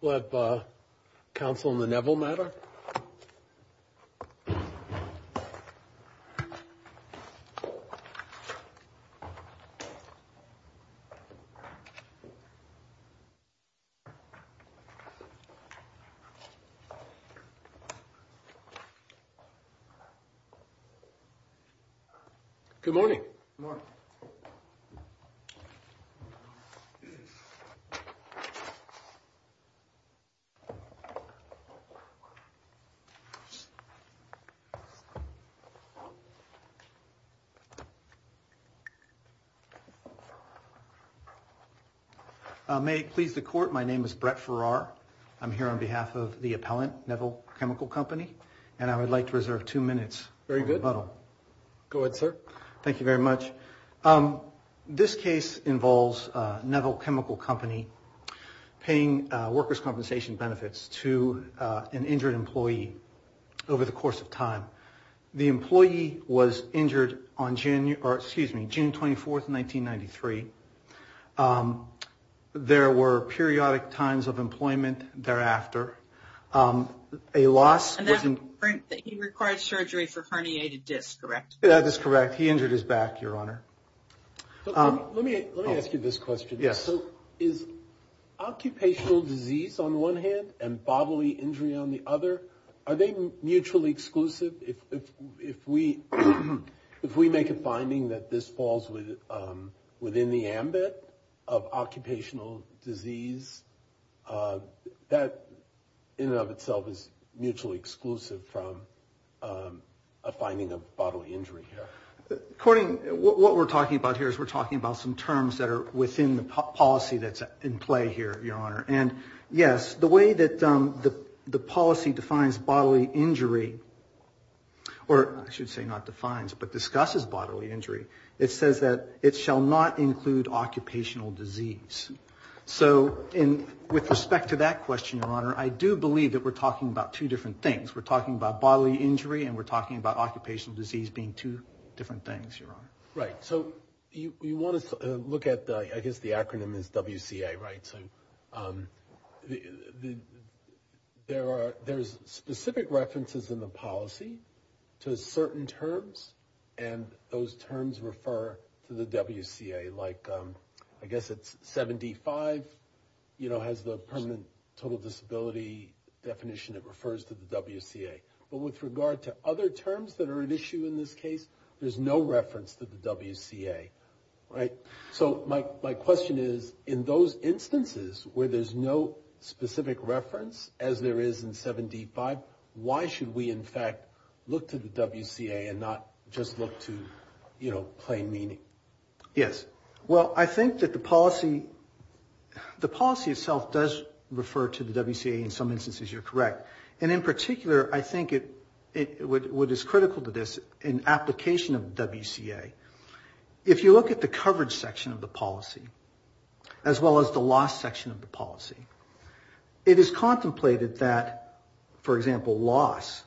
We'll have counsel in the Neville matter. Good morning. Morning. May it please the court, my name is Brett Farrar. I'm here on behalf of the appellant, Neville Chemical Company, and I would like to reserve two minutes. Very good. Go ahead, sir. Thank you very much. This case involves Neville Chemical Company paying workers' compensation benefits to an injured employee over the course of time. The employee was injured on June, excuse me, June 24, 1993. There were periodic times of employment thereafter. A loss was in... And that was the point that he required surgery for herniated disc, correct? That is correct. He injured his back, Your Honor. Let me ask you this question. Yes. Is occupational disease on one hand and bodily injury on the other, are they mutually exclusive? If we make a finding that this falls within the ambit of occupational disease, that in and of itself is mutually exclusive from a finding of bodily injury here. According... What we're talking about here is we're talking about some terms that are within the policy that's in play here, Your Honor. And, yes, the way that the policy defines bodily injury, or I should say not defines, but discusses bodily injury, it says that it shall not include occupational disease. So with respect to that question, Your Honor, I do believe that we're talking about two different things. We're talking about bodily injury and we're talking about occupational disease being two different things, Your Honor. Right. So you want to look at, I guess the acronym is WCA, right? So there's specific references in the policy to certain terms and those terms refer to the WCA. Like, I guess it's 75, you know, has the permanent total disability definition that refers to the WCA. But with regard to other terms that are an issue in this case, there's no reference to the WCA, right? So my question is, in those instances where there's no specific reference, as there is in 75, why should we, in fact, look to the WCA and not just look to, you know, plain meaning? Yes. Well, I think that the policy itself does refer to the WCA in some instances. You're correct. And in particular, I think what is critical to this, in application of the WCA, if you look at the coverage section of the policy, as well as the loss section of the policy, it is contemplated that, for example, loss,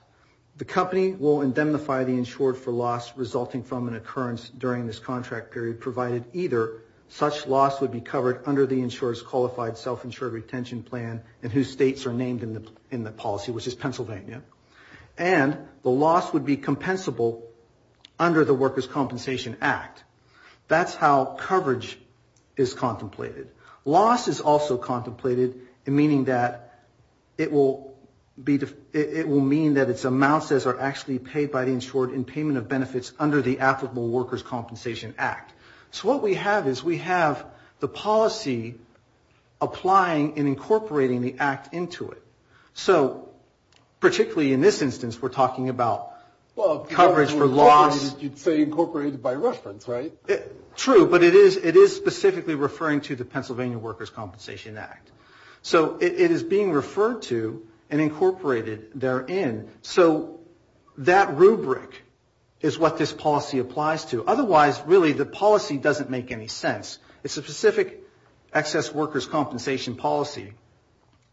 the company will indemnify the insured for loss resulting from an occurrence during this contract period, provided either such loss would be covered under the insurer's qualified self-insured retention plan and whose states are named in the policy, which is Pennsylvania, and the loss would be compensable under the Workers' Compensation Act. That's how coverage is contemplated. Loss is also contemplated, meaning that it will mean that its amounts are actually paid by the insured in payment of benefits under the applicable Workers' Compensation Act. So what we have is we have the policy applying and incorporating the act into it. So particularly in this instance, we're talking about coverage for loss. You'd say incorporated by reference, right? True, but it is specifically referring to the Pennsylvania Workers' Compensation Act. So it is being referred to and incorporated therein. So that rubric is what this policy applies to. Otherwise, really, the policy doesn't make any sense. It's a specific excess workers' compensation policy,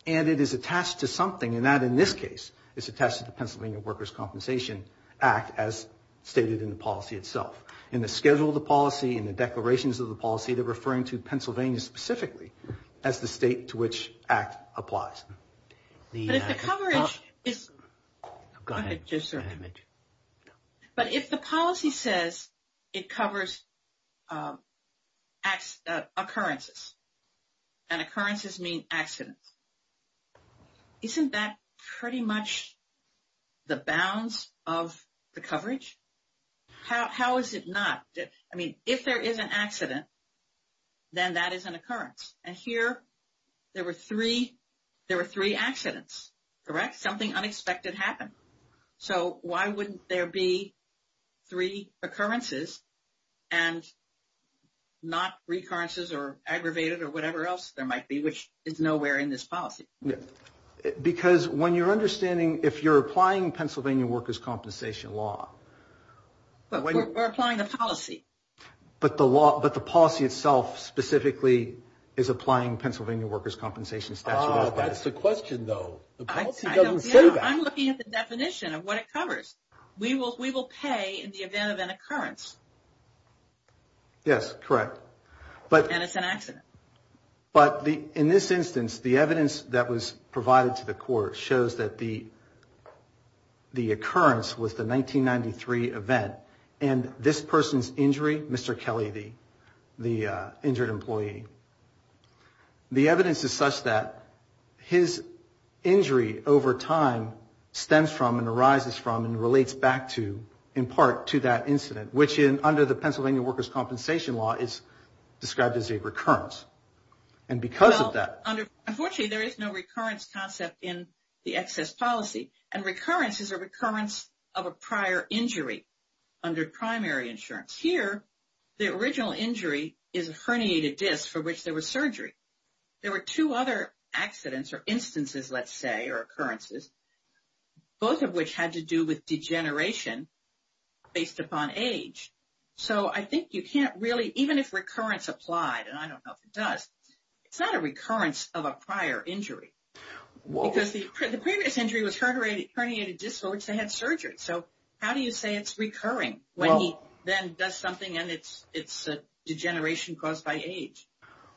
and it is attached to something. And that, in this case, is attached to the Pennsylvania Workers' Compensation Act, as stated in the policy itself. In the schedule of the policy, in the declarations of the policy, they're referring to Pennsylvania specifically as the state to which act applies. But if the coverage is... Go ahead. But if the policy says it covers occurrences, and occurrences mean accidents, isn't that pretty much the bounds of the coverage? How is it not? I mean, if there is an accident, then that is an occurrence. And here there were three accidents, correct? Something unexpected happened. So why wouldn't there be three occurrences and not recurrences or aggravated or whatever else there might be, which is nowhere in this policy? Because when you're understanding, if you're applying Pennsylvania workers' compensation law... But we're applying the policy. But the policy itself specifically is applying Pennsylvania workers' compensation statute. That's the question, though. The policy doesn't say that. I'm looking at the definition of what it covers. We will pay in the event of an occurrence. Yes, correct. And it's an accident. But in this instance, the evidence that was provided to the court shows that the occurrence was the 1993 event. And this person's injury, Mr. Kelly, the injured employee, the evidence is such that his injury over time stems from and arises from and relates back to, in part, to that incident, which under the Pennsylvania workers' compensation law is described as a recurrence. And because of that... Well, unfortunately there is no recurrence concept in the excess policy. And recurrence is a recurrence of a prior injury under primary insurance. Here the original injury is a herniated disc for which there was surgery. There were two other accidents or instances, let's say, or occurrences, both of which had to do with degeneration based upon age. So I think you can't really, even if recurrence applied, and I don't know if it does, it's not a recurrence of a prior injury. Because the previous injury was herniated disc for which they had surgery. So how do you say it's recurring when he then does something and it's a degeneration caused by age?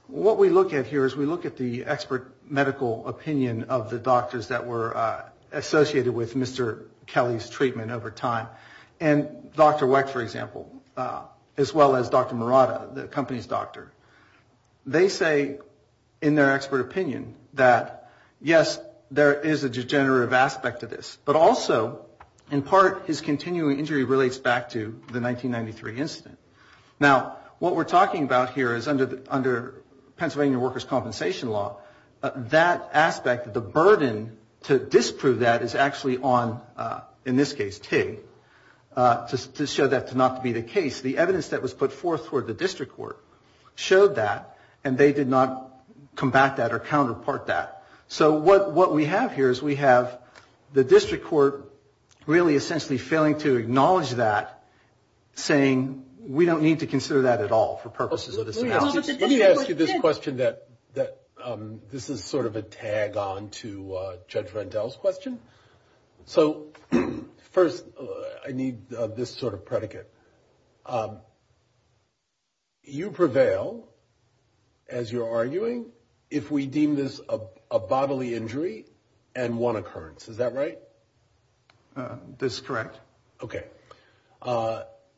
What we look at here is we look at the expert medical opinion of the doctors that were associated with Mr. Kelly's treatment over time. And Dr. Weck, for example, as well as Dr. Murata, the company's doctor, they say in their expert opinion that, yes, there is a degenerative aspect to this, but also, in part, his continuing injury relates back to the 1993 incident. Now, what we're talking about here is under Pennsylvania workers' compensation law, that aspect, the burden to disprove that is actually on, in this case, TIG, to show that to not be the case. The evidence that was put forth for the district court showed that, and they did not combat that or counterpart that. So what we have here is we have the district court really essentially failing to acknowledge that, saying we don't need to consider that at all for purposes of this analysis. Let me ask you this question that this is sort of a tag-on to Judge Rendell's question. So first, I need this sort of predicate. You prevail, as you're arguing, if we deem this a bodily injury and one occurrence. Is that right? That's correct. Okay.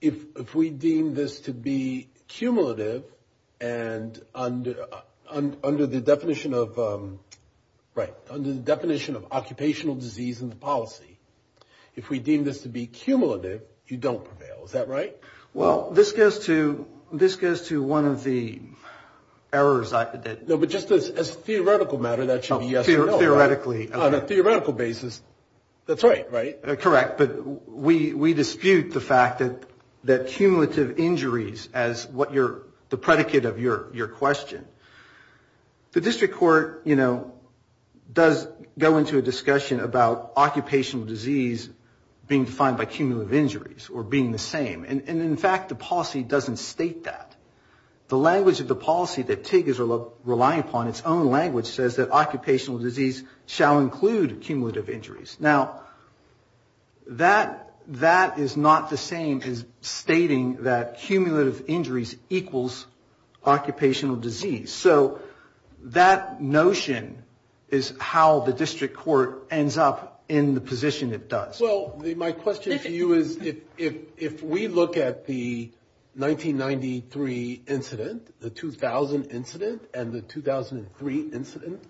If we deem this to be cumulative and under the definition of occupational disease in the policy, if we deem this to be cumulative, you don't prevail. Is that right? Well, this goes to one of the errors. No, but just as a theoretical matter, that should be yes or no. Theoretically. On a theoretical basis, that's right, right? Correct. But we dispute the fact that cumulative injuries, as the predicate of your question, the district court, you know, does go into a discussion about occupational disease being defined by cumulative injuries or being the same. And, in fact, the policy doesn't state that. The language of the policy that TIG is relying upon, its own language says that occupational disease shall include cumulative injuries. Now, that is not the same as stating that cumulative injuries equals occupational disease. So that notion is how the district court ends up in the position it does. Well, my question to you is if we look at the 1993 incident, the 2000 incident, and the 2003 incident,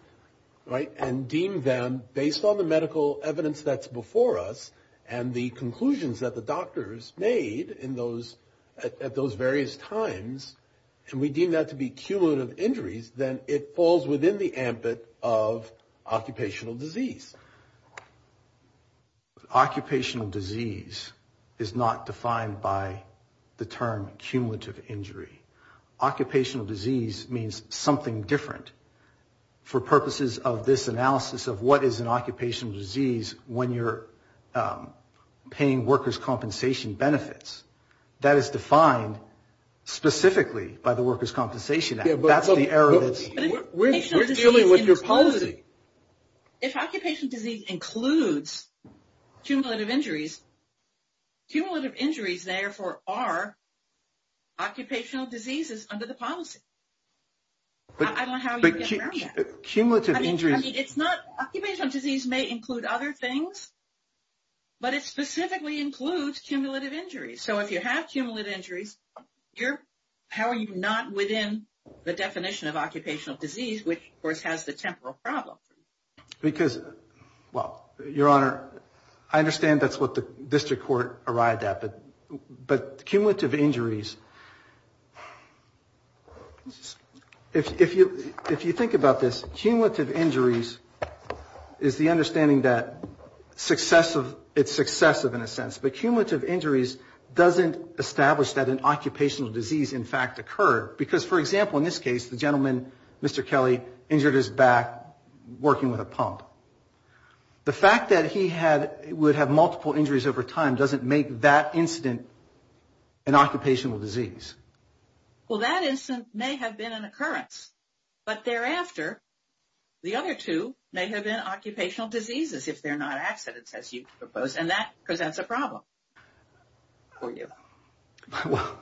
right, and deem them based on the medical evidence that's before us and the conclusions that the doctors made at those various times, and we deem that to be cumulative injuries, then it falls within the ambit of occupational disease. Occupational disease is not defined by the term cumulative injury. Occupational disease means something different. For purposes of this analysis of what is an occupational disease when you're paying workers' compensation benefits, that is defined specifically by the Workers' Compensation Act. That's the area that's... We're dealing with your policy. If occupational disease includes cumulative injuries, cumulative injuries, therefore, are occupational diseases under the policy. I don't know how you get around that. Cumulative injuries... I mean, it's not... Occupational disease may include other things, but it specifically includes cumulative injuries. So if you have cumulative injuries, how are you not within the definition of occupational disease, which, of course, has the temporal problem? Because... Well, Your Honor, I understand that's what the district court arrived at, but cumulative injuries... If you think about this, cumulative injuries is the understanding that it's successive in a sense, but cumulative injuries doesn't establish that an occupational disease, in fact, occurred. Because, for example, in this case, the gentleman, Mr. Kelly, injured his back, working with a pump. The fact that he would have multiple injuries over time doesn't make that incident an occupational disease. Well, that incident may have been an occurrence, but thereafter, the other two may have been occupational diseases, if they're not accidents, as you propose, and that presents a problem for you. Well,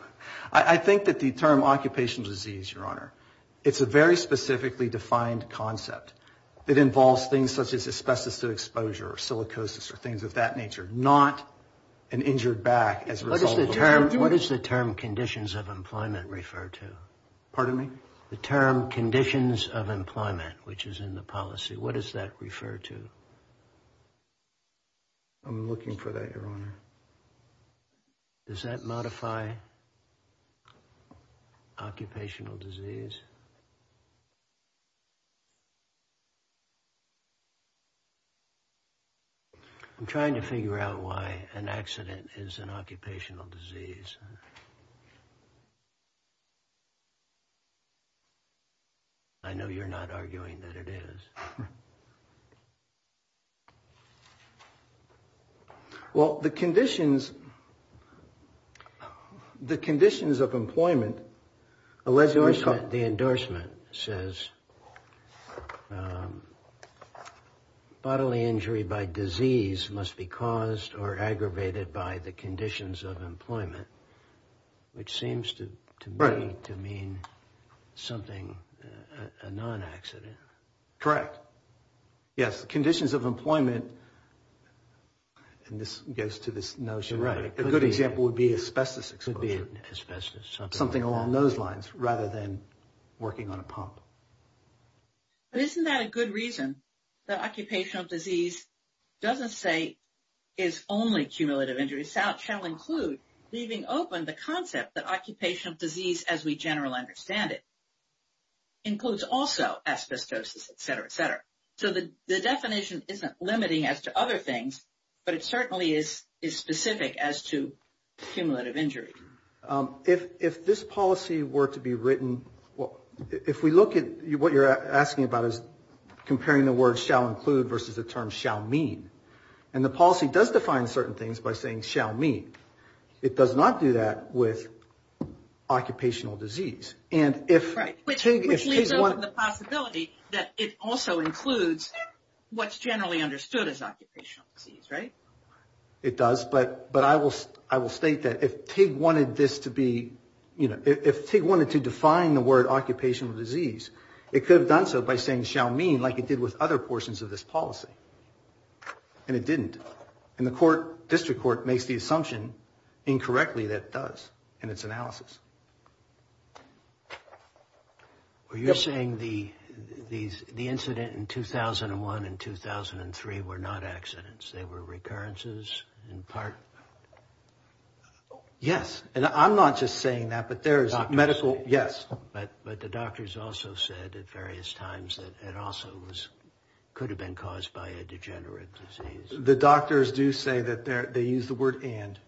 I think that the term occupational disease, Your Honor, it's a very specifically defined concept that involves things such as asbestos exposure or silicosis or things of that nature, not an injured back as a result of... What does the term conditions of employment refer to? Pardon me? The term conditions of employment, which is in the policy, I'm looking for that, Your Honor. Does that modify occupational disease? I'm trying to figure out why an accident is an occupational disease. I know you're not arguing that it is. Well, the conditions of employment... The endorsement says bodily injury by disease must be caused or aggravated by the conditions of employment, which seems to me to mean something, a non-accident. Correct. Yes, conditions of employment, and this goes to this notion... Right. A good example would be asbestos exposure. Asbestos. Something along those lines, rather than working on a pump. But isn't that a good reason that occupational disease doesn't say it's only cumulative injury? It shall include leaving open the concept that occupational disease, as we generally understand it, includes also asbestosis, et cetera, et cetera. So the definition isn't limiting as to other things, but it certainly is specific as to cumulative injury. If this policy were to be written... If we look at what you're asking about is comparing the word shall include versus the term shall mean, and the policy does define certain things by saying shall mean. It does not do that with occupational disease. Right, which leaves open the possibility that it also includes what's generally understood as occupational disease, right? It does, but I will state that if TIG wanted this to be... If TIG wanted to define the word occupational disease, it could have done so by saying shall mean, like it did with other portions of this policy, and it didn't. And the court, district court, makes the assumption incorrectly that it does in its analysis. Well, you're saying the incident in 2001 and 2003 were not accidents. They were recurrences in part... Yes, and I'm not just saying that, but there is medical... But the doctors also said at various times that it also was... The doctors do say that they use the word and,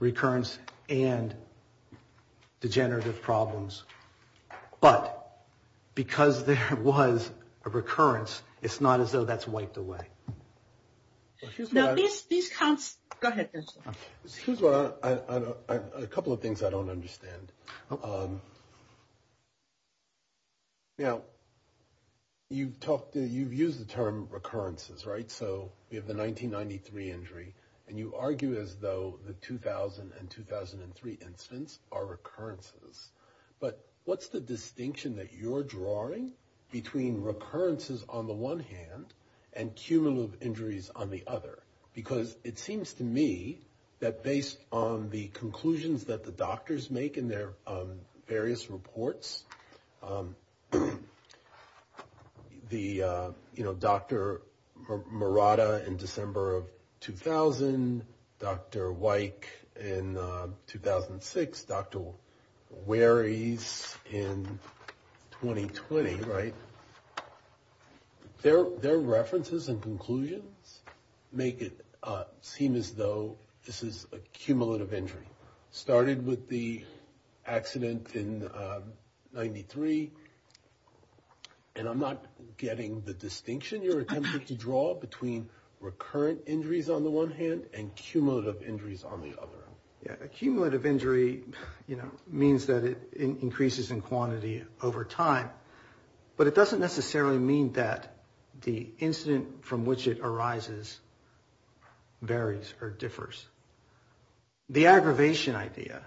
recurrence and degenerative problems, but because there was a recurrence, it's not as though that's wiped away. No, these counts... Go ahead. A couple of things I don't understand. Now, you've used the term recurrences, right? So we have the 1993 injury, and you argue as though the 2000 and 2003 incidents are recurrences, but what's the distinction that you're drawing between recurrences on the one hand and cumulative injuries on the other? Because it seems to me that based on the conclusions that the doctors make in their various reports, the, you know, Dr. Murata in December of 2000, Dr. Wyke in 2006, Dr. Warey's in 2020, right? Their references and conclusions make it seem as though this is a cumulative injury. Started with the accident in 93, and I'm not getting the distinction you're attempting to draw between recurrent injuries on the one hand and cumulative injuries on the other. Yeah, a cumulative injury, you know, means that it increases in quantity over time, but it doesn't necessarily mean that the incident from which it arises varies or differs. The aggravation idea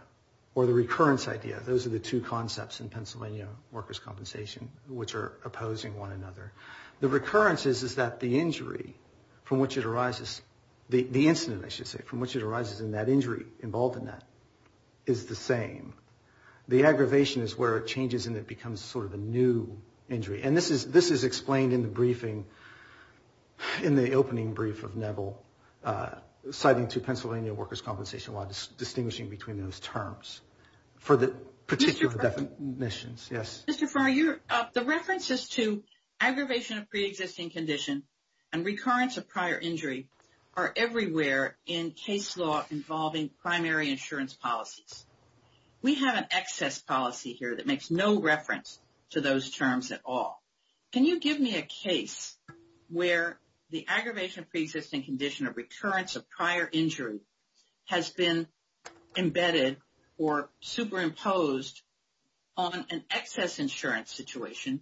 or the recurrence idea, those are the two concepts in Pennsylvania workers' compensation, which are opposing one another. The recurrences is that the injury from which it arises, the incident, I should say, from which it arises and that injury involved in that is the same. The aggravation is where it changes and it becomes sort of a new injury, and this is explained in the briefing, in the opening brief of Neville citing to Pennsylvania workers' compensation while distinguishing between those terms for the particular definitions. Mr. Farr, the references to aggravation of preexisting condition and recurrence of prior injury are everywhere in case law involving primary insurance policies. We have an excess policy here that makes no reference to those terms at all. Can you give me a case where the aggravation of preexisting condition or recurrence of prior injury has been embedded or superimposed on an excess insurance situation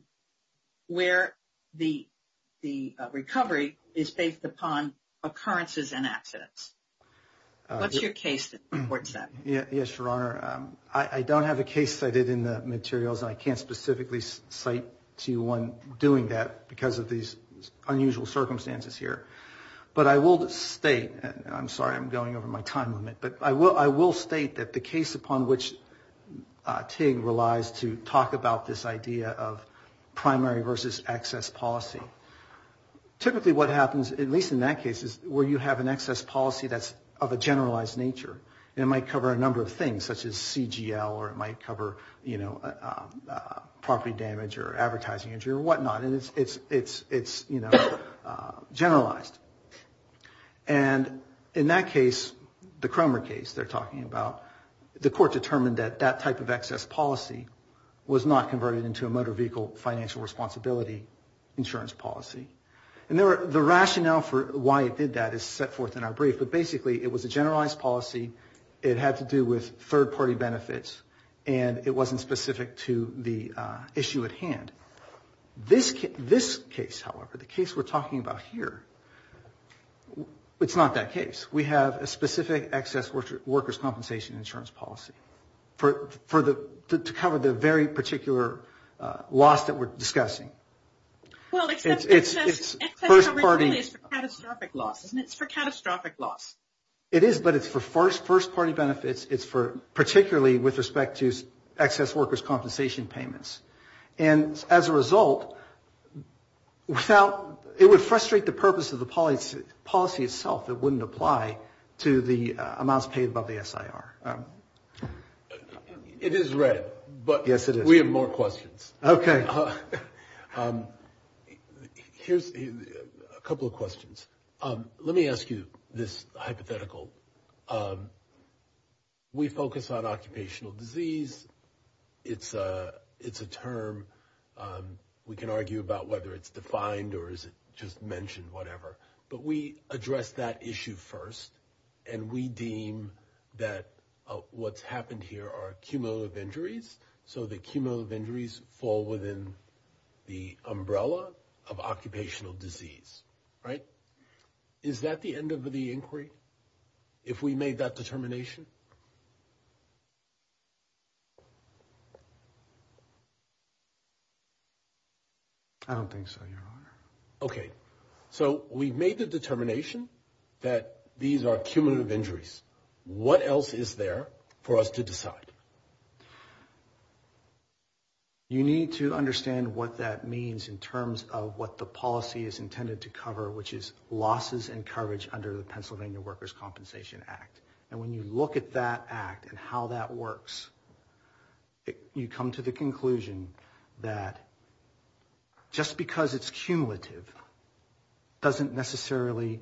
where the recovery is based upon occurrences and accidents? What's your case that supports that? Yes, Your Honor. I don't have a case cited in the materials, and I can't specifically cite to you one doing that because of these unusual circumstances here. But I will state, and I'm sorry I'm going over my time limit, but I will state that the case upon which Tig relies to talk about this idea of primary versus excess policy, typically what happens, at least in that case, is where you have an excess policy that's of a generalized nature. It might cover a number of things, such as CGL, or it might cover property damage or advertising injury or whatnot, and it's generalized. And in that case, the Cromer case they're talking about, the court determined that that type of excess policy was not converted into a motor vehicle financial responsibility insurance policy. And the rationale for why it did that is set forth in our brief, but basically it was a generalized policy. It had to do with third-party benefits, and it wasn't specific to the issue at hand. This case, however, the case we're talking about here, it's not that case. We have a specific excess workers' compensation insurance policy to cover the very particular loss that we're discussing. Well, except excess coverage really is for catastrophic loss, isn't it? It's for catastrophic loss. It is, but it's for first-party benefits. It's particularly with respect to excess workers' compensation payments. And as a result, it would frustrate the purpose of the policy itself. It wouldn't apply to the amounts paid by the SIR. It is read, but we have more questions. Okay. Here's a couple of questions. Let me ask you this hypothetical. We focus on occupational disease. It's a term we can argue about whether it's defined or is it just mentioned, whatever. But we address that issue first, and we deem that what's happened here are cumulative injuries. So the cumulative injuries fall within the umbrella of occupational disease, right? Is that the end of the inquiry, if we made that determination? I don't think so, Your Honor. Okay. So we've made the determination that these are cumulative injuries. What else is there for us to decide? You need to understand what that means in terms of what the policy is intended to cover, which is losses and coverage under the Pennsylvania Workers' Compensation Act. And when you look at that act and how that works, you come to the conclusion that just because it's cumulative doesn't necessarily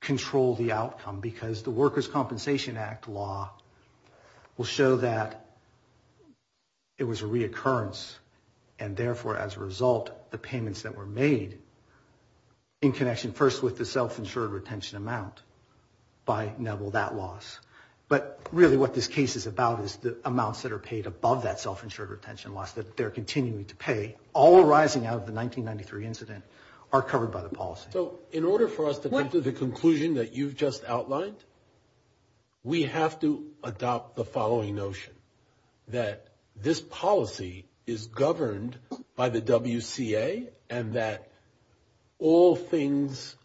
control the outcome because the Workers' Compensation Act law will show that it was a reoccurrence and, therefore, as a result, the payments that were made in connection, first, with the self-insured retention amount by Neville, that loss. But really what this case is about is the amounts that are paid above that self-insured retention loss that they're continuing to pay, all arising out of the 1993 incident, are covered by the policy. So in order for us to come to the conclusion that you've just outlined, we have to adopt the following notion, that this policy is governed by the WCA and that all things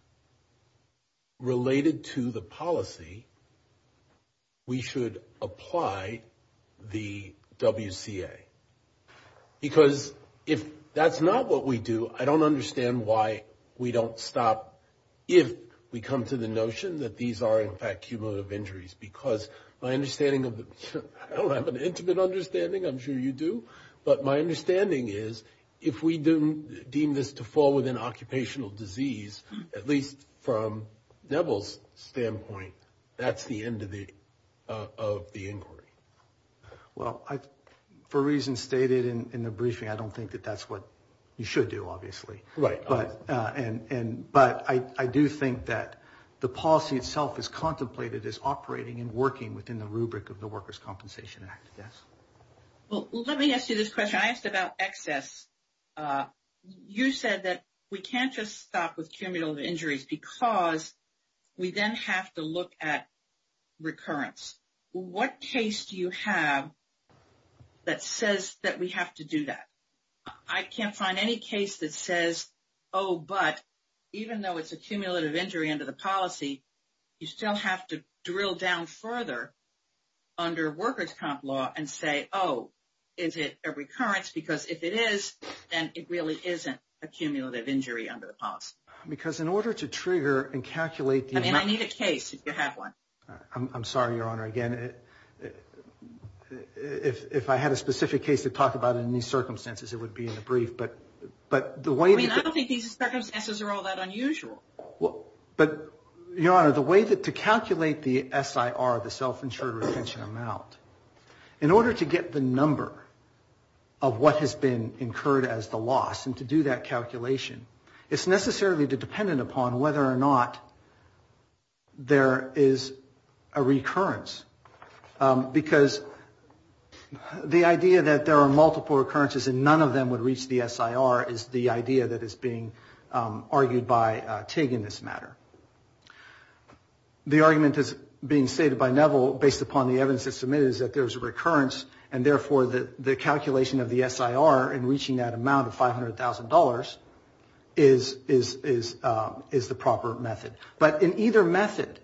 related to the policy, we should apply the WCA. Because if that's not what we do, I don't understand why we don't stop if we come to the notion that these are, in fact, because my understanding of the, I don't have an intimate understanding, I'm sure you do, but my understanding is if we deem this to fall within occupational disease, at least from Neville's standpoint, that's the end of the inquiry. Well, for reasons stated in the briefing, I don't think that that's what you should do, obviously. Right. But I do think that the policy itself is contemplated as operating and working within the rubric of the Workers' Compensation Act. Yes. Well, let me ask you this question. I asked about excess. You said that we can't just stop with cumulative injuries because we then have to look at recurrence. What case do you have that says that we have to do that? I can't find any case that says, oh, but, even though it's a cumulative injury under the policy, you still have to drill down further under workers' comp law and say, oh, is it a recurrence? Because if it is, then it really isn't a cumulative injury under the policy. Because in order to trigger and calculate the amount of... I mean, I need a case, if you have one. I'm sorry, Your Honor, again. If I had a specific case to talk about in these circumstances, it would be in the brief. But the way... I mean, I don't think these circumstances are all that unusual. But, Your Honor, the way to calculate the SIR, the self-insured retention amount, in order to get the number of what has been incurred as the loss and to do that calculation, it's necessarily dependent upon whether or not there is a recurrence. Because the idea that there are multiple recurrences and none of them would reach the SIR is the idea that is being argued by Tig in this matter. The argument that's being stated by Neville, based upon the evidence that's submitted, is that there is a recurrence and therefore the calculation of the SIR in reaching that amount of $500,000 is the proper method. But in either method,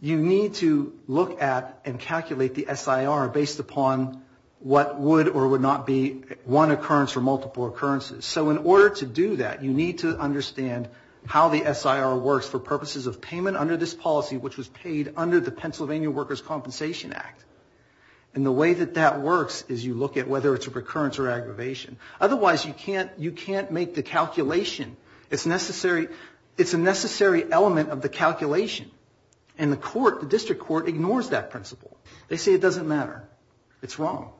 you need to look at and calculate the SIR based upon what would or would not be one occurrence or multiple occurrences. So in order to do that, you need to understand how the SIR works for purposes of payment under this policy, which was paid under the Pennsylvania Workers' Compensation Act. And the way that that works is you look at whether it's a recurrence or aggravation. Otherwise, you can't make the calculation. It's a necessary element of the calculation. And the court, the district court, ignores that principle. They say it doesn't matter. It's wrong.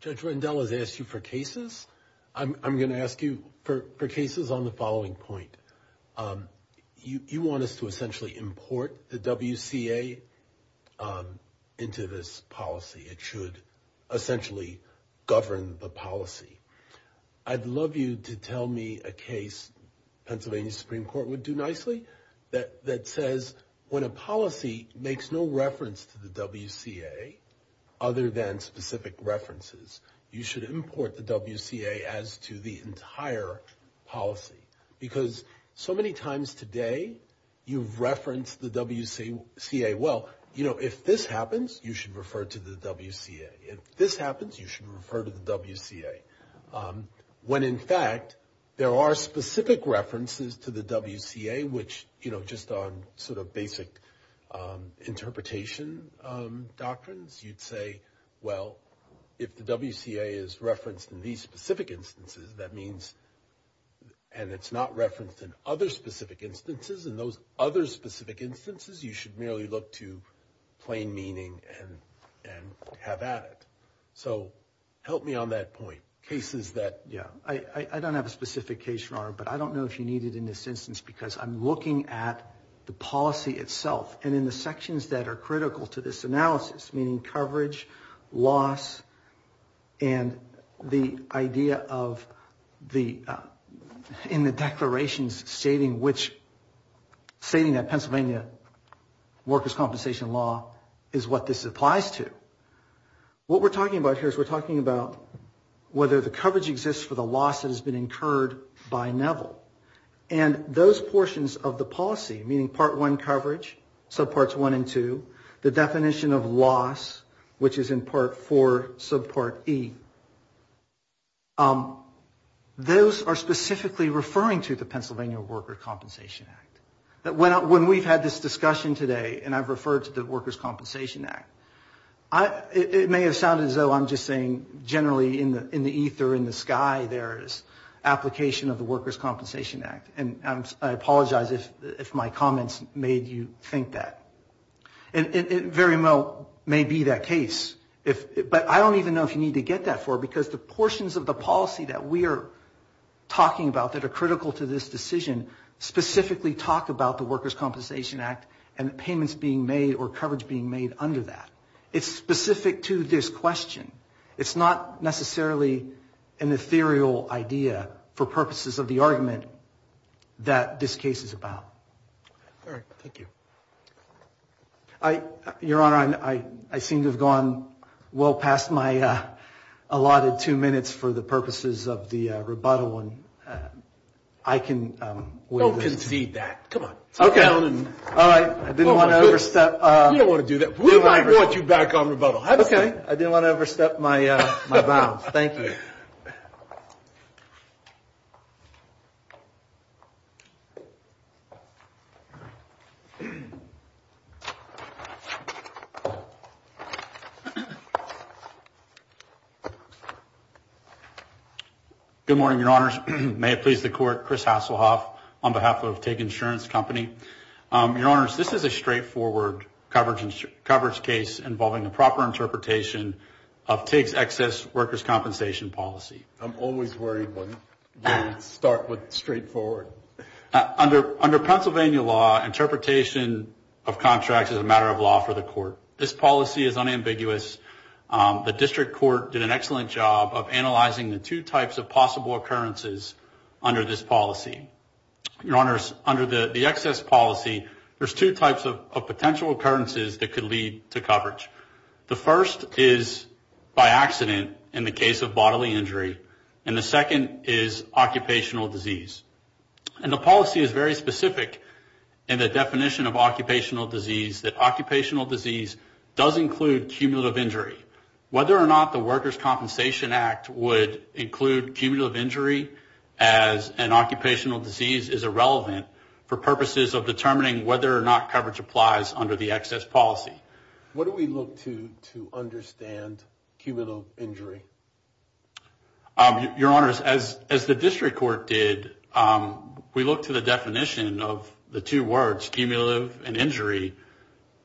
Judge Rendell has asked you for cases. I'm going to ask you for cases on the following point. You want us to essentially import the WCA into this policy. It should essentially govern the policy. I'd love you to tell me a case Pennsylvania's Supreme Court would do nicely that says when a policy makes no reference to the WCA other than specific references, you should import the WCA as to the entire policy. Because so many times today, you've referenced the WCA. Well, you know, if this happens, you should refer to the WCA. If this happens, you should refer to the WCA. When, in fact, there are specific references to the WCA, which, you know, just on sort of basic interpretation doctrines, you'd say, well, if the WCA is referenced in these specific instances, that means, and it's not referenced in other specific instances, in those other specific instances you should merely look to plain meaning and have at it. So help me on that point. Cases that, yeah, I don't have a specific case, Your Honor, but I don't know if you need it in this instance because I'm looking at the policy itself and in the sections that are critical to this analysis, meaning coverage, loss, and the idea of the, in the declarations stating which, stating that Pennsylvania workers' compensation law is what this applies to. What we're talking about here is we're talking about whether the coverage exists for the loss that has been incurred by Neville. And those portions of the policy, meaning Part 1 coverage, subparts 1 and 2, the definition of loss, which is in Part 4, subpart E, those are specifically referring to the Pennsylvania Workers' Compensation Act. When we've had this discussion today, and I've referred to the Workers' Compensation Act, it may have sounded as though I'm just saying generally in the ether, in the sky, there is application of the Workers' Compensation Act. And I apologize if my comments made you think that. It very well may be that case, but I don't even know if you need to get that for it because the portions of the policy that we are talking about that are critical to this decision specifically talk about the Workers' Compensation Act and the payments being made or coverage being made under that. It's specific to this question. It's not necessarily an ethereal idea for purposes of the argument that this case is about. Your Honor, I seem to have gone well past my allotted two minutes for the purposes of the rebuttal. And I can wait a minute. Don't concede that. Come on. Okay. I didn't want to overstep. You don't want to do that. We might want you back on rebuttal. Have a seat. Okay. I didn't want to overstep my bounds. Thank you. Thank you. Good morning, Your Honors. May it please the Court, Chris Hasselhoff on behalf of TIG Insurance Company. Your Honors, this is a straightforward coverage case involving a proper interpretation of TIG's excess workers' compensation policy. I'm always worried when you start with straightforward. Under Pennsylvania law, interpretation of contracts is a matter of law for the Court. This policy is unambiguous. The District Court did an excellent job of analyzing the two types of possible occurrences under this policy. Your Honors, under the excess policy, there's two types of potential occurrences that could lead to coverage. The first is by accident in the case of bodily injury, and the second is occupational disease. And the policy is very specific in the definition of occupational disease, that occupational disease does include cumulative injury. Whether or not the Workers' Compensation Act would include cumulative injury as an occupational disease is irrelevant for purposes of determining whether or not coverage applies under the excess policy. What do we look to to understand cumulative injury? Your Honors, as the District Court did, we looked to the definition of the two words, cumulative and injury,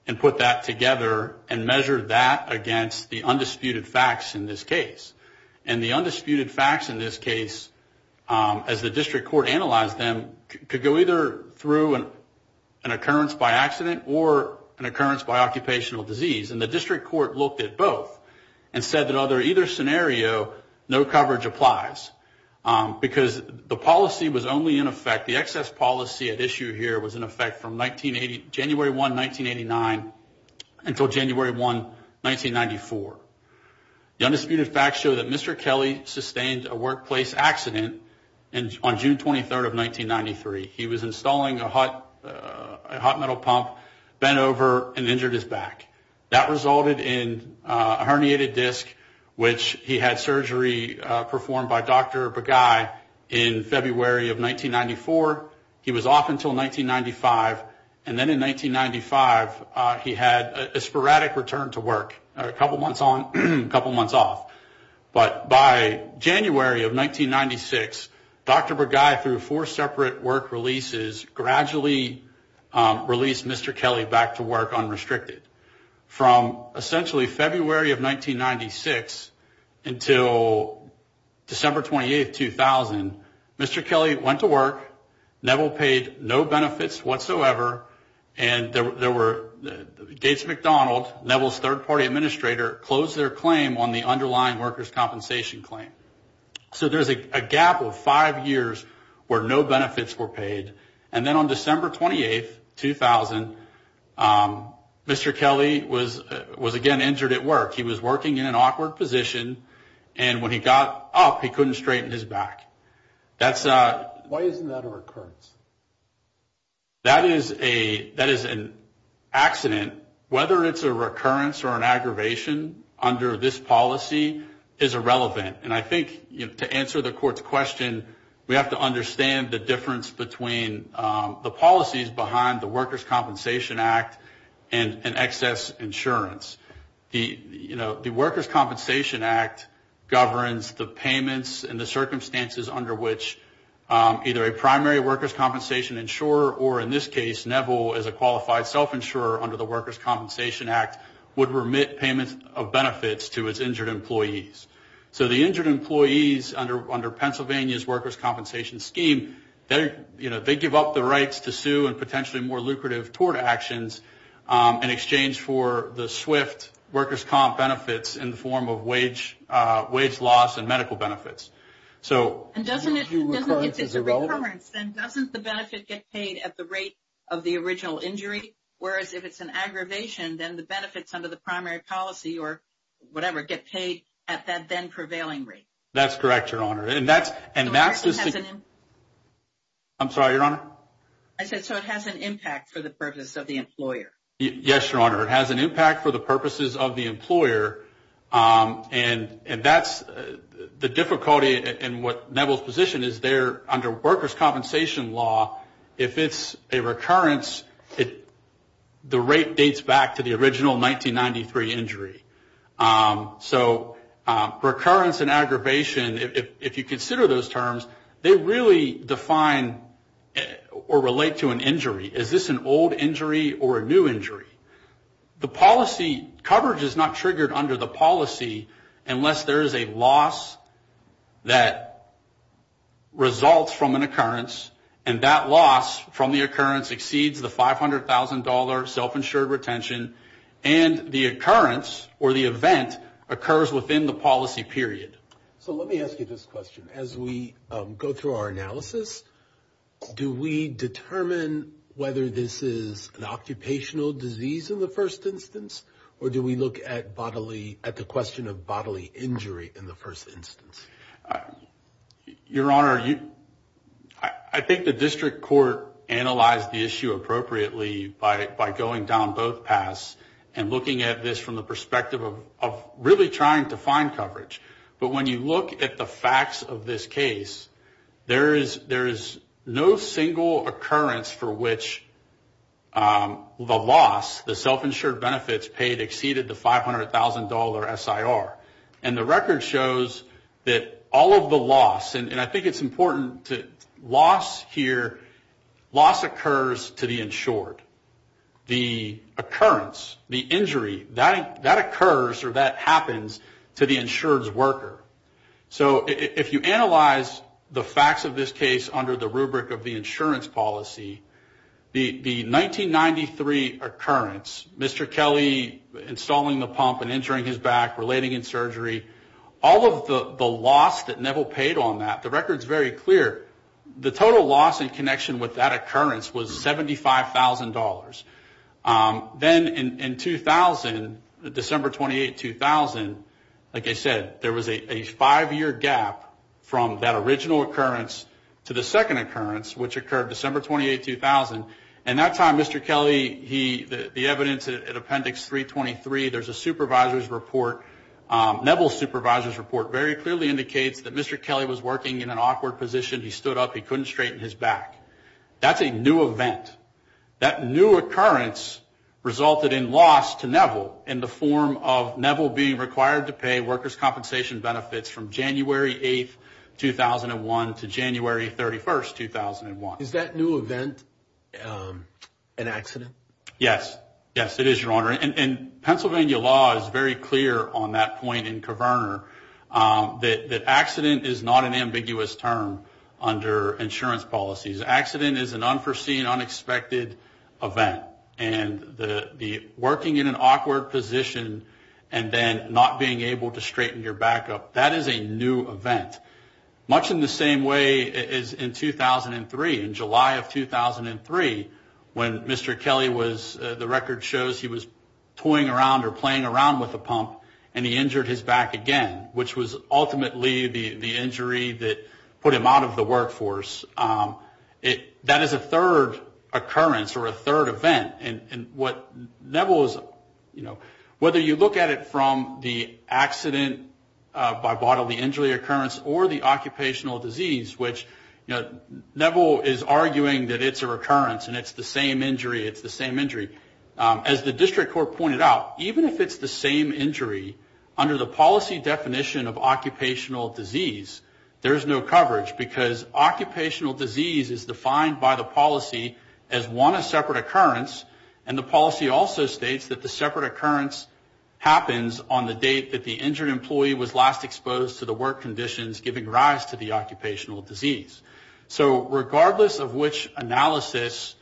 and put that together and measured that against the undisputed facts in this case. And the undisputed facts in this case, as the District Court analyzed them, could go either through an occurrence by accident or an occurrence by occupational disease. And the District Court looked at both and said that under either scenario, no coverage applies. Because the policy was only in effect, the excess policy at issue here was in effect from January 1, 1989 until January 1, 1994. The undisputed facts show that Mr. Kelly sustained a workplace accident on June 23, 1993. He was installing a hot metal pump, bent over, and injured his back. That resulted in a herniated disc, which he had surgery performed by Dr. Bagai in February of 1994. He was off until 1995. And then in 1995, he had a sporadic return to work, a couple months on, a couple months off. But by January of 1996, Dr. Bagai, through four separate work releases, gradually released Mr. Kelly back to work unrestricted. From essentially February of 1996 until December 28, 2000, Mr. Kelly went to work. Neville paid no benefits whatsoever. And there were Gates McDonald, Neville's third-party administrator, closed their claim on the underlying workers' compensation claim. So there's a gap of five years where no benefits were paid. And then on December 28, 2000, Mr. Kelly was again injured at work. He was working in an awkward position. And when he got up, he couldn't straighten his back. Why isn't that a recurrence? That is an accident. Whether it's a recurrence or an aggravation under this policy is irrelevant. And I think to answer the court's question, we have to understand the difference between the policies behind the Workers' Compensation Act and excess insurance. The Workers' Compensation Act governs the payments and the circumstances under which either a primary workers' compensation insurer, or in this case, Neville as a qualified self-insurer under the Workers' Compensation Act, would remit payments of benefits to his injured employees. So the injured employees under Pennsylvania's workers' compensation scheme, they give up the rights to sue and potentially more lucrative tort actions in exchange for the swift workers' comp benefits in the form of wage loss and medical benefits. And doesn't it, if it's a recurrence, then doesn't the benefit get paid at the rate of the original injury? Whereas if it's an aggravation, then the benefits under the primary policy or whatever get paid at that then prevailing rate. That's correct, Your Honor. I'm sorry, Your Honor? I said so it has an impact for the purpose of the employer. Yes, Your Honor. It has an impact for the purposes of the employer. And that's the difficulty in what Neville's position is there under workers' compensation law. If it's a recurrence, the rate dates back to the original 1993 injury. So recurrence and aggravation, if you consider those terms, they really define or relate to an injury. Is this an old injury or a new injury? The policy coverage is not triggered under the policy unless there is a loss that results from an occurrence and that loss from the occurrence exceeds the $500,000 self-insured retention and the occurrence or the event occurs within the policy period. So let me ask you this question. As we go through our analysis, do we determine whether this is an occupational disease in the first instance or do we look at the question of bodily injury in the first instance? Your Honor, I think the district court analyzed the issue appropriately by going down both paths and looking at this from the perspective of really trying to find coverage. But when you look at the facts of this case, there is no single occurrence for which the loss, the self-insured benefits paid exceeded the $500,000 SIR. And the record shows that all of the loss, and I think it's important to, loss here, loss occurs to the insured. The occurrence, the injury, that occurs or that happens to the insured's worker. So if you analyze the facts of this case under the rubric of the insurance policy, the 1993 occurrence, Mr. Kelly installing the pump and injuring his back, relating in surgery, all of the loss that Neville paid on that, the record is very clear, the total loss in connection with that occurrence was $75,000. Then in 2000, December 28, 2000, like I said, there was a five-year gap from that original occurrence to the second occurrence, which occurred December 28, 2000. At that time, Mr. Kelly, the evidence at appendix 323, there's a supervisor's report, Neville's supervisor's report very clearly indicates that Mr. Kelly was working in an awkward position, he stood up, he couldn't straighten his back. That's a new event. That new occurrence resulted in loss to Neville in the form of Neville being required to pay workers' compensation benefits from January 8, 2001 to January 31, 2001. Is that new event an accident? Yes. Yes, it is, Your Honor. And Pennsylvania law is very clear on that point in Coverner that accident is not an ambiguous term under insurance policies. Accident is an unforeseen, unexpected event. And the working in an awkward position and then not being able to straighten your back up, that is a new event. Much in the same way as in 2003. In July of 2003, when Mr. Kelly was, the record shows he was toying around or playing around with a pump and he injured his back again, which was ultimately the injury that put him out of the workforce. That is a third occurrence or a third event. And what Neville, whether you look at it from the accident by bodily injury occurrence or the occupational disease, which Neville is arguing that it's a recurrence and it's the same injury, it's the same injury. As the district court pointed out, even if it's the same injury, under the policy definition of occupational disease, there's no coverage because occupational disease is defined by the policy as one separate occurrence and the policy also states that the separate occurrence happens on the date that the injured employee was last exposed to the work conditions giving rise to the injury. Regardless of which analysis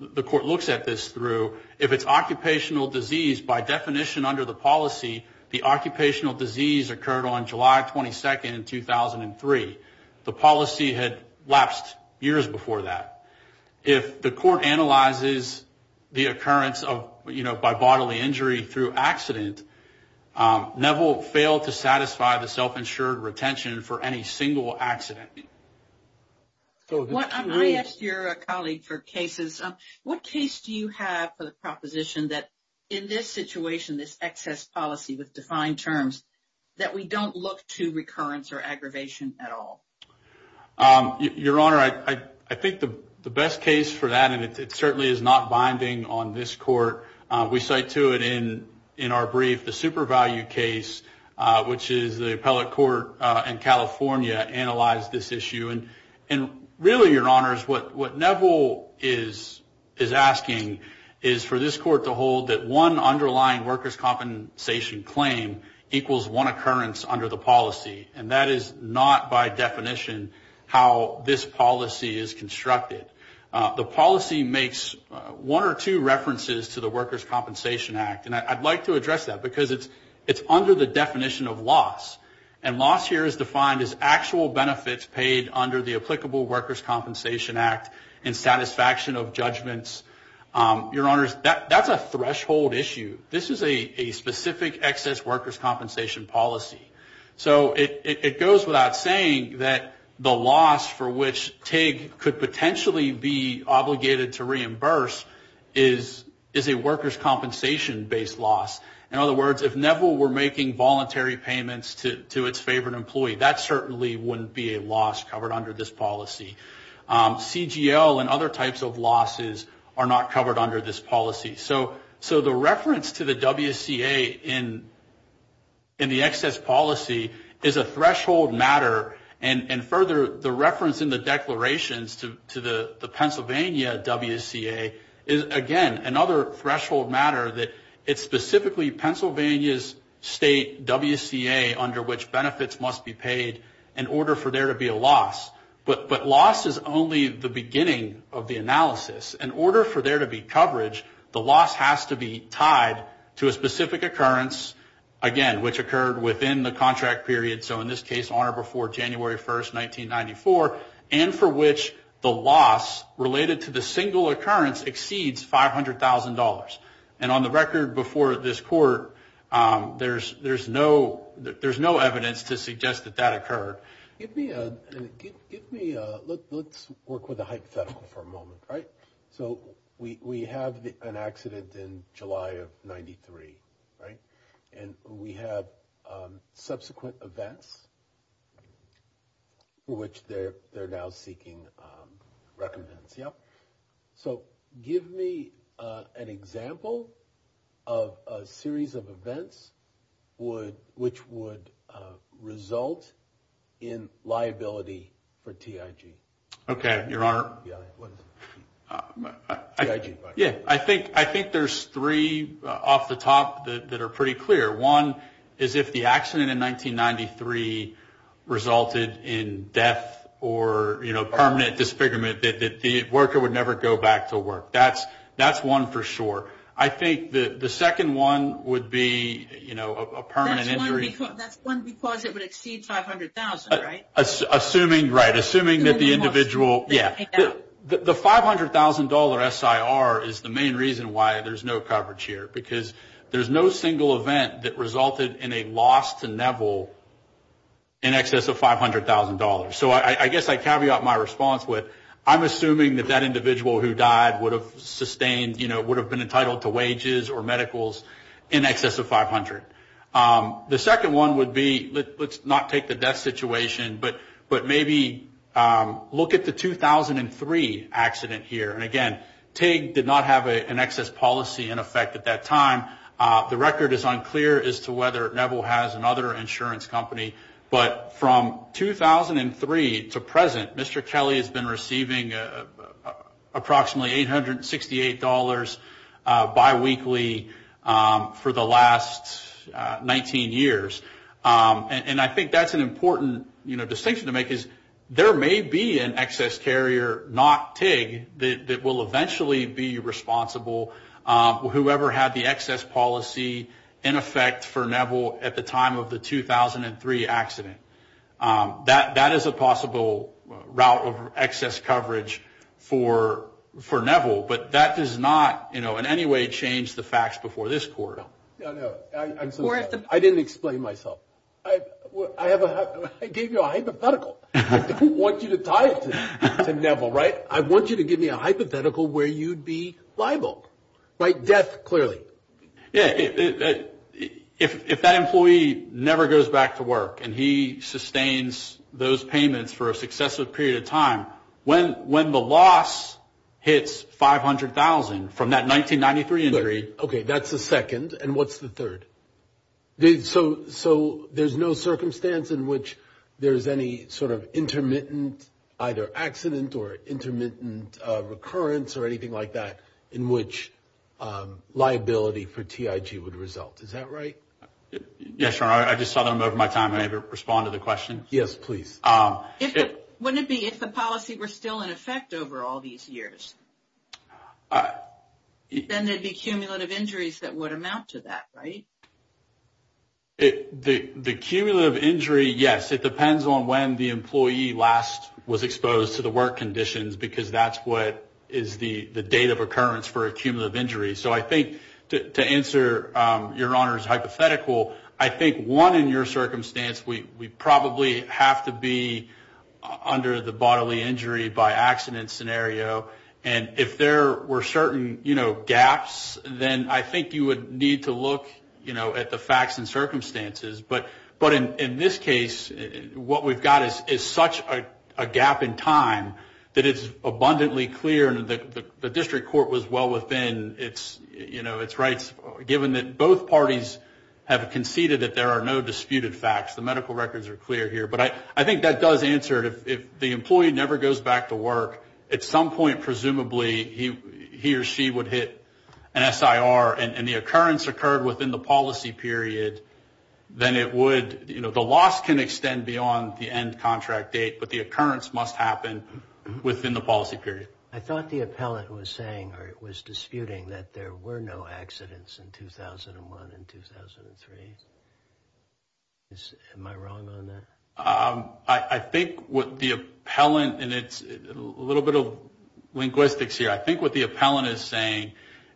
the court looks at this through, if it's occupational disease, by definition under the policy, the occupational disease occurred on July 22nd, 2003. The policy had lapsed years before that. If the court analyzes the occurrence by bodily injury through accident, Neville failed to satisfy the self-insured retention for any single injury. I asked your colleague for cases. What case do you have for the proposition that in this situation, this excess policy with defined terms, that we don't look to recurrence or aggravation at all? Your Honor, I think the best case for that, and it certainly is not binding on this court, we cite to it in our brief, the super value case, what Neville is asking is for this court to hold that one underlying workers' compensation claim equals one occurrence under the policy, and that is not by definition how this policy is constructed. The policy makes one or two references to the Workers' Compensation Act, and I'd like to address that because it's under the definition of loss, and loss here is defined as actual benefits paid under the applicable workers' compensation act. In satisfaction of judgments, your Honor, that's a threshold issue. This is a specific excess workers' compensation policy. So it goes without saying that the loss for which TIG could potentially be obligated to reimburse is a workers' compensation based loss. In other words, if Neville were making voluntary payments to its favorite employee, that certainly wouldn't be a loss covered under this policy. CGL and other types of losses are not covered under this policy. So the reference to the WCA in the excess policy is a threshold matter, and further, the reference in the declarations to the WCA is specifically Pennsylvania's state WCA under which benefits must be paid in order for there to be a loss. But loss is only the beginning of the analysis. In order for there to be coverage, the loss has to be tied to a specific occurrence, again, which occurred within the contract period, so in this case, Honor, before January 1st, 1994, and for which the loss related to the single occurrence exceeds $500,000. And on the record before this court, there's no evidence to suggest that that occurred. Give me a, let's work with a hypothetical for a moment, right? So we have an accident in July of 93, right? And we have subsequent events for which they're now seeking recommendations. Yep. So give me an example of a series of events which would result in liability for TIG. Okay, Your Honor. Yeah, I think there's three off the top that are pretty clear. One is if the accident in 1993 resulted in death or, you know, permanent disfigurement. The worker would never go back to work. That's one for sure. I think the second one would be, you know, a permanent injury. That's one because it would exceed $500,000, right? Right, assuming that the individual, yeah. The $500,000 SIR is the main reason why there's no coverage here, because there's no single event that resulted in a loss to Neville in excess of $500,000. So I guess I caveat my response with I'm assuming that that individual who died would have sustained, you know, would have been entitled to wages or medicals in excess of $500,000. The second one would be, let's not take the death situation, but maybe look at the 2003 accident here. And again, TIG did not have an excess policy in effect at that time. The record is unclear as to whether Neville has another insurance company. But from 2003 to present, Mr. Kelly has been receiving approximately $868 biweekly for the last 19 years. And I think that's an important, you know, distinction to make, is there may be an excess carrier, not TIG, that will eventually be responsible, whoever had the excess policy in effect for Neville at the time of the 2003 accident. That is a possible route of excess coverage for Neville. But that does not, you know, in any way change the facts before this court. No, no. I didn't explain myself. I gave you a hypothetical. I don't want you to tie it to Neville, right? I want you to give me a hypothetical where you'd be liable, right? Death, clearly. Yeah. If that employee never goes back to work and he sustains those payments for a successive period of time, when the loss hits $500,000 from that 1993 injury. Okay. That's the second. And what's the third? So there's no circumstance in which there's any sort of intermittent either accident or intermittent recurrence or anything like that in which liability for TIG would result. Is that right? Yes, Your Honor. I just saw them over my time. May I respond to the question? Yes, please. Wouldn't it be if the policy were still in effect over all these years? Then there'd be cumulative injuries that would amount to that, right? The cumulative injury, yes. It depends on when the employee last was exposed to the work conditions because that's what is the date of occurrence for a cumulative injury. So I think to answer Your Honor's hypothetical, I think one in your circumstance, we probably have to be under the bodily injury by accident scenario. And if there were certain gaps, then I think you would need to look at the facts and circumstances. But in this case, what we've got is such a gap in time that it's abundantly clear. And the district court was well within its rights, given that both parties have conceded that there are no disputed facts. The medical records are clear here. But I think that does answer it. If the employee never goes back to work, at some point, presumably, he or she would hit an SIR, and the occurrence occurred within the policy period, then it would, the loss can extend beyond the end contract date, but the occurrence must happen within the policy period. I thought the appellant was saying or was disputing that there were no accidents in 2001 and 2003. Am I wrong on that? I think what the appellant, and it's a little bit of linguistics here, I think what the appellant is saying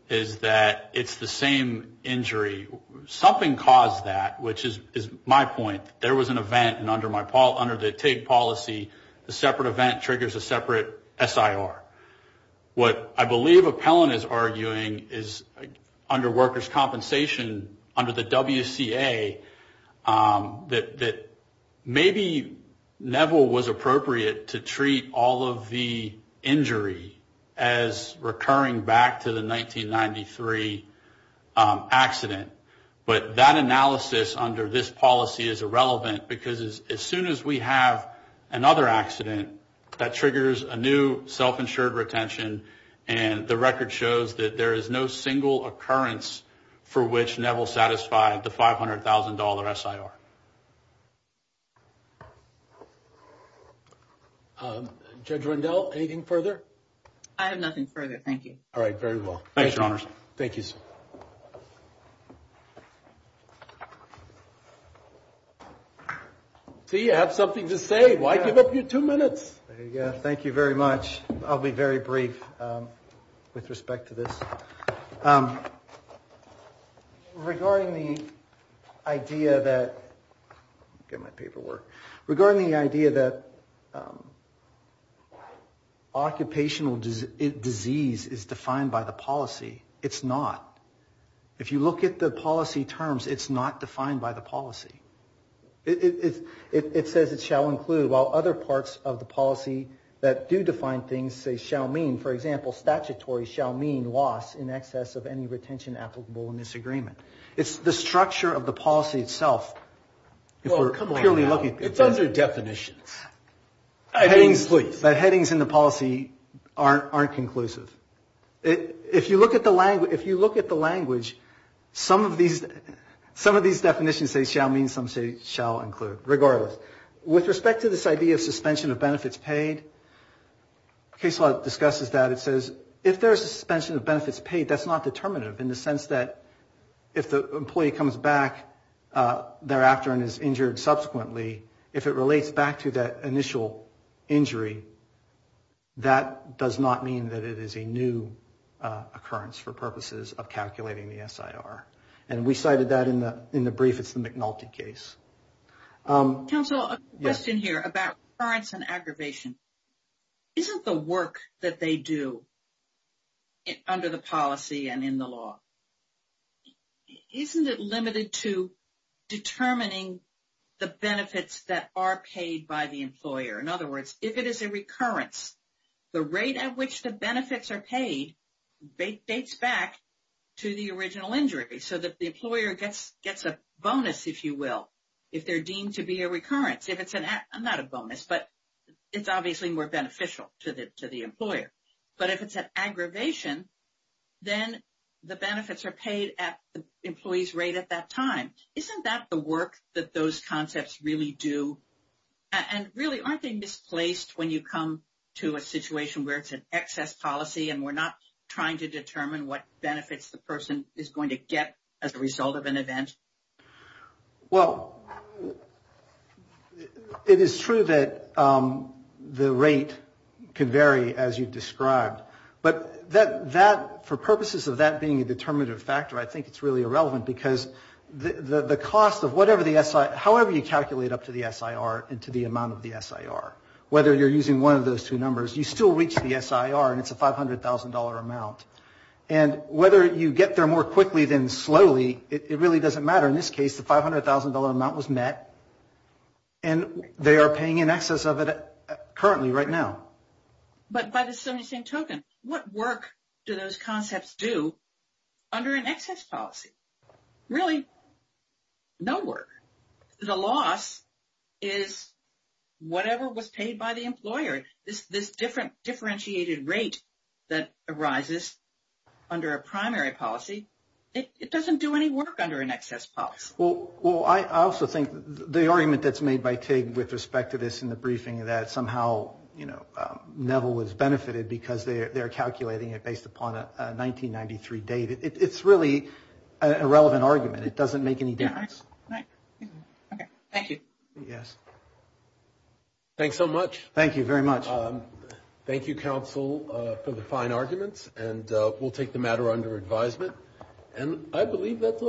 is that it's the same injury. Something caused that, which is my point. There was an event, and under the TIG policy, a separate event triggers a separate SIR. What I believe appellant is arguing is under workers' compensation, under the WCA, that maybe Neville was appropriate to treat all of the injury as recurring back to the 1993 accident. But that analysis under this policy is irrelevant, because as soon as we have another accident, that triggers a new self-insured retention, and the record shows that there is no single occurrence for which Neville satisfied the $500,000 SIR. Judge Rendell, anything further? I have nothing further, thank you. See, you have something to say, why give up your two minutes? Thank you very much, I'll be very brief with respect to this. Regarding the idea that occupational disease is defined by the policy, it's not. If you look at the policy terms, it's not defined by the policy. It says it shall include, while other parts of the policy that do define things say shall mean, for example, statutory shall mean loss in excess of any retention applicable in this agreement. It's the structure of the policy itself. It's under definitions. Headings in the policy aren't conclusive. If you look at the language, some of these definitions say shall mean, some say shall include, regardless. With respect to this idea of suspension of benefits paid, Case Law discusses that. It says if there is a suspension of benefits paid, that's not determinative, in the sense that if the employee comes back thereafter and is injured subsequently, if it relates back to that initial injury, that does not mean that it is a new occurrence for purposes of calculating the SIR. And we cited that in the brief, it's the McNulty case. Counsel, a question here about occurrence and aggravation. Isn't the work that they do under the policy and in the law, isn't it limited to determining the benefits that are paid by the employer? In other words, if it is a recurrence, the rate at which the benefits are paid, dates back to the original injury. So that the employer gets a bonus, if you will, if they're deemed to be a recurrence. Not a bonus, but it's obviously more beneficial to the employer. But if it's an aggravation, then the benefits are paid at the employee's rate at that time. Isn't that the work that those concepts really do? And really, aren't they misplaced when you come to a situation where it's an excess policy and we're not trying to determine what benefits the person is going to get as a result of an event? Well, it is true that the rate can vary as you described. But for purposes of that being a determinative factor, I think it's really irrelevant because the cost of whatever the SIR, however you calculate up to the SIR and to the amount of the SIR, whether you're using one of those two numbers, you still reach the SIR and it's a $500,000 amount. And whether you get there more quickly than slowly, it really doesn't matter. In this case, the $500,000 amount was met and they are paying in excess of it currently right now. But by the same token, what work do those concepts do under an excess policy? Really, no work. The loss is whatever was paid by the employer. This different differentiated rate that arises under a primary policy, it doesn't do any work under an excess policy. Well, I also think the argument that's made by TIG with respect to this in the briefing that somehow, you know, Neville was benefited because they're calculating it based upon a 1993 date. It's really an irrelevant argument. It doesn't make any difference. Thank you. Yes. Thanks so much. Thank you very much. Thank you, counsel, for the fine arguments. And we'll take the matter under advisement. And I believe that's all.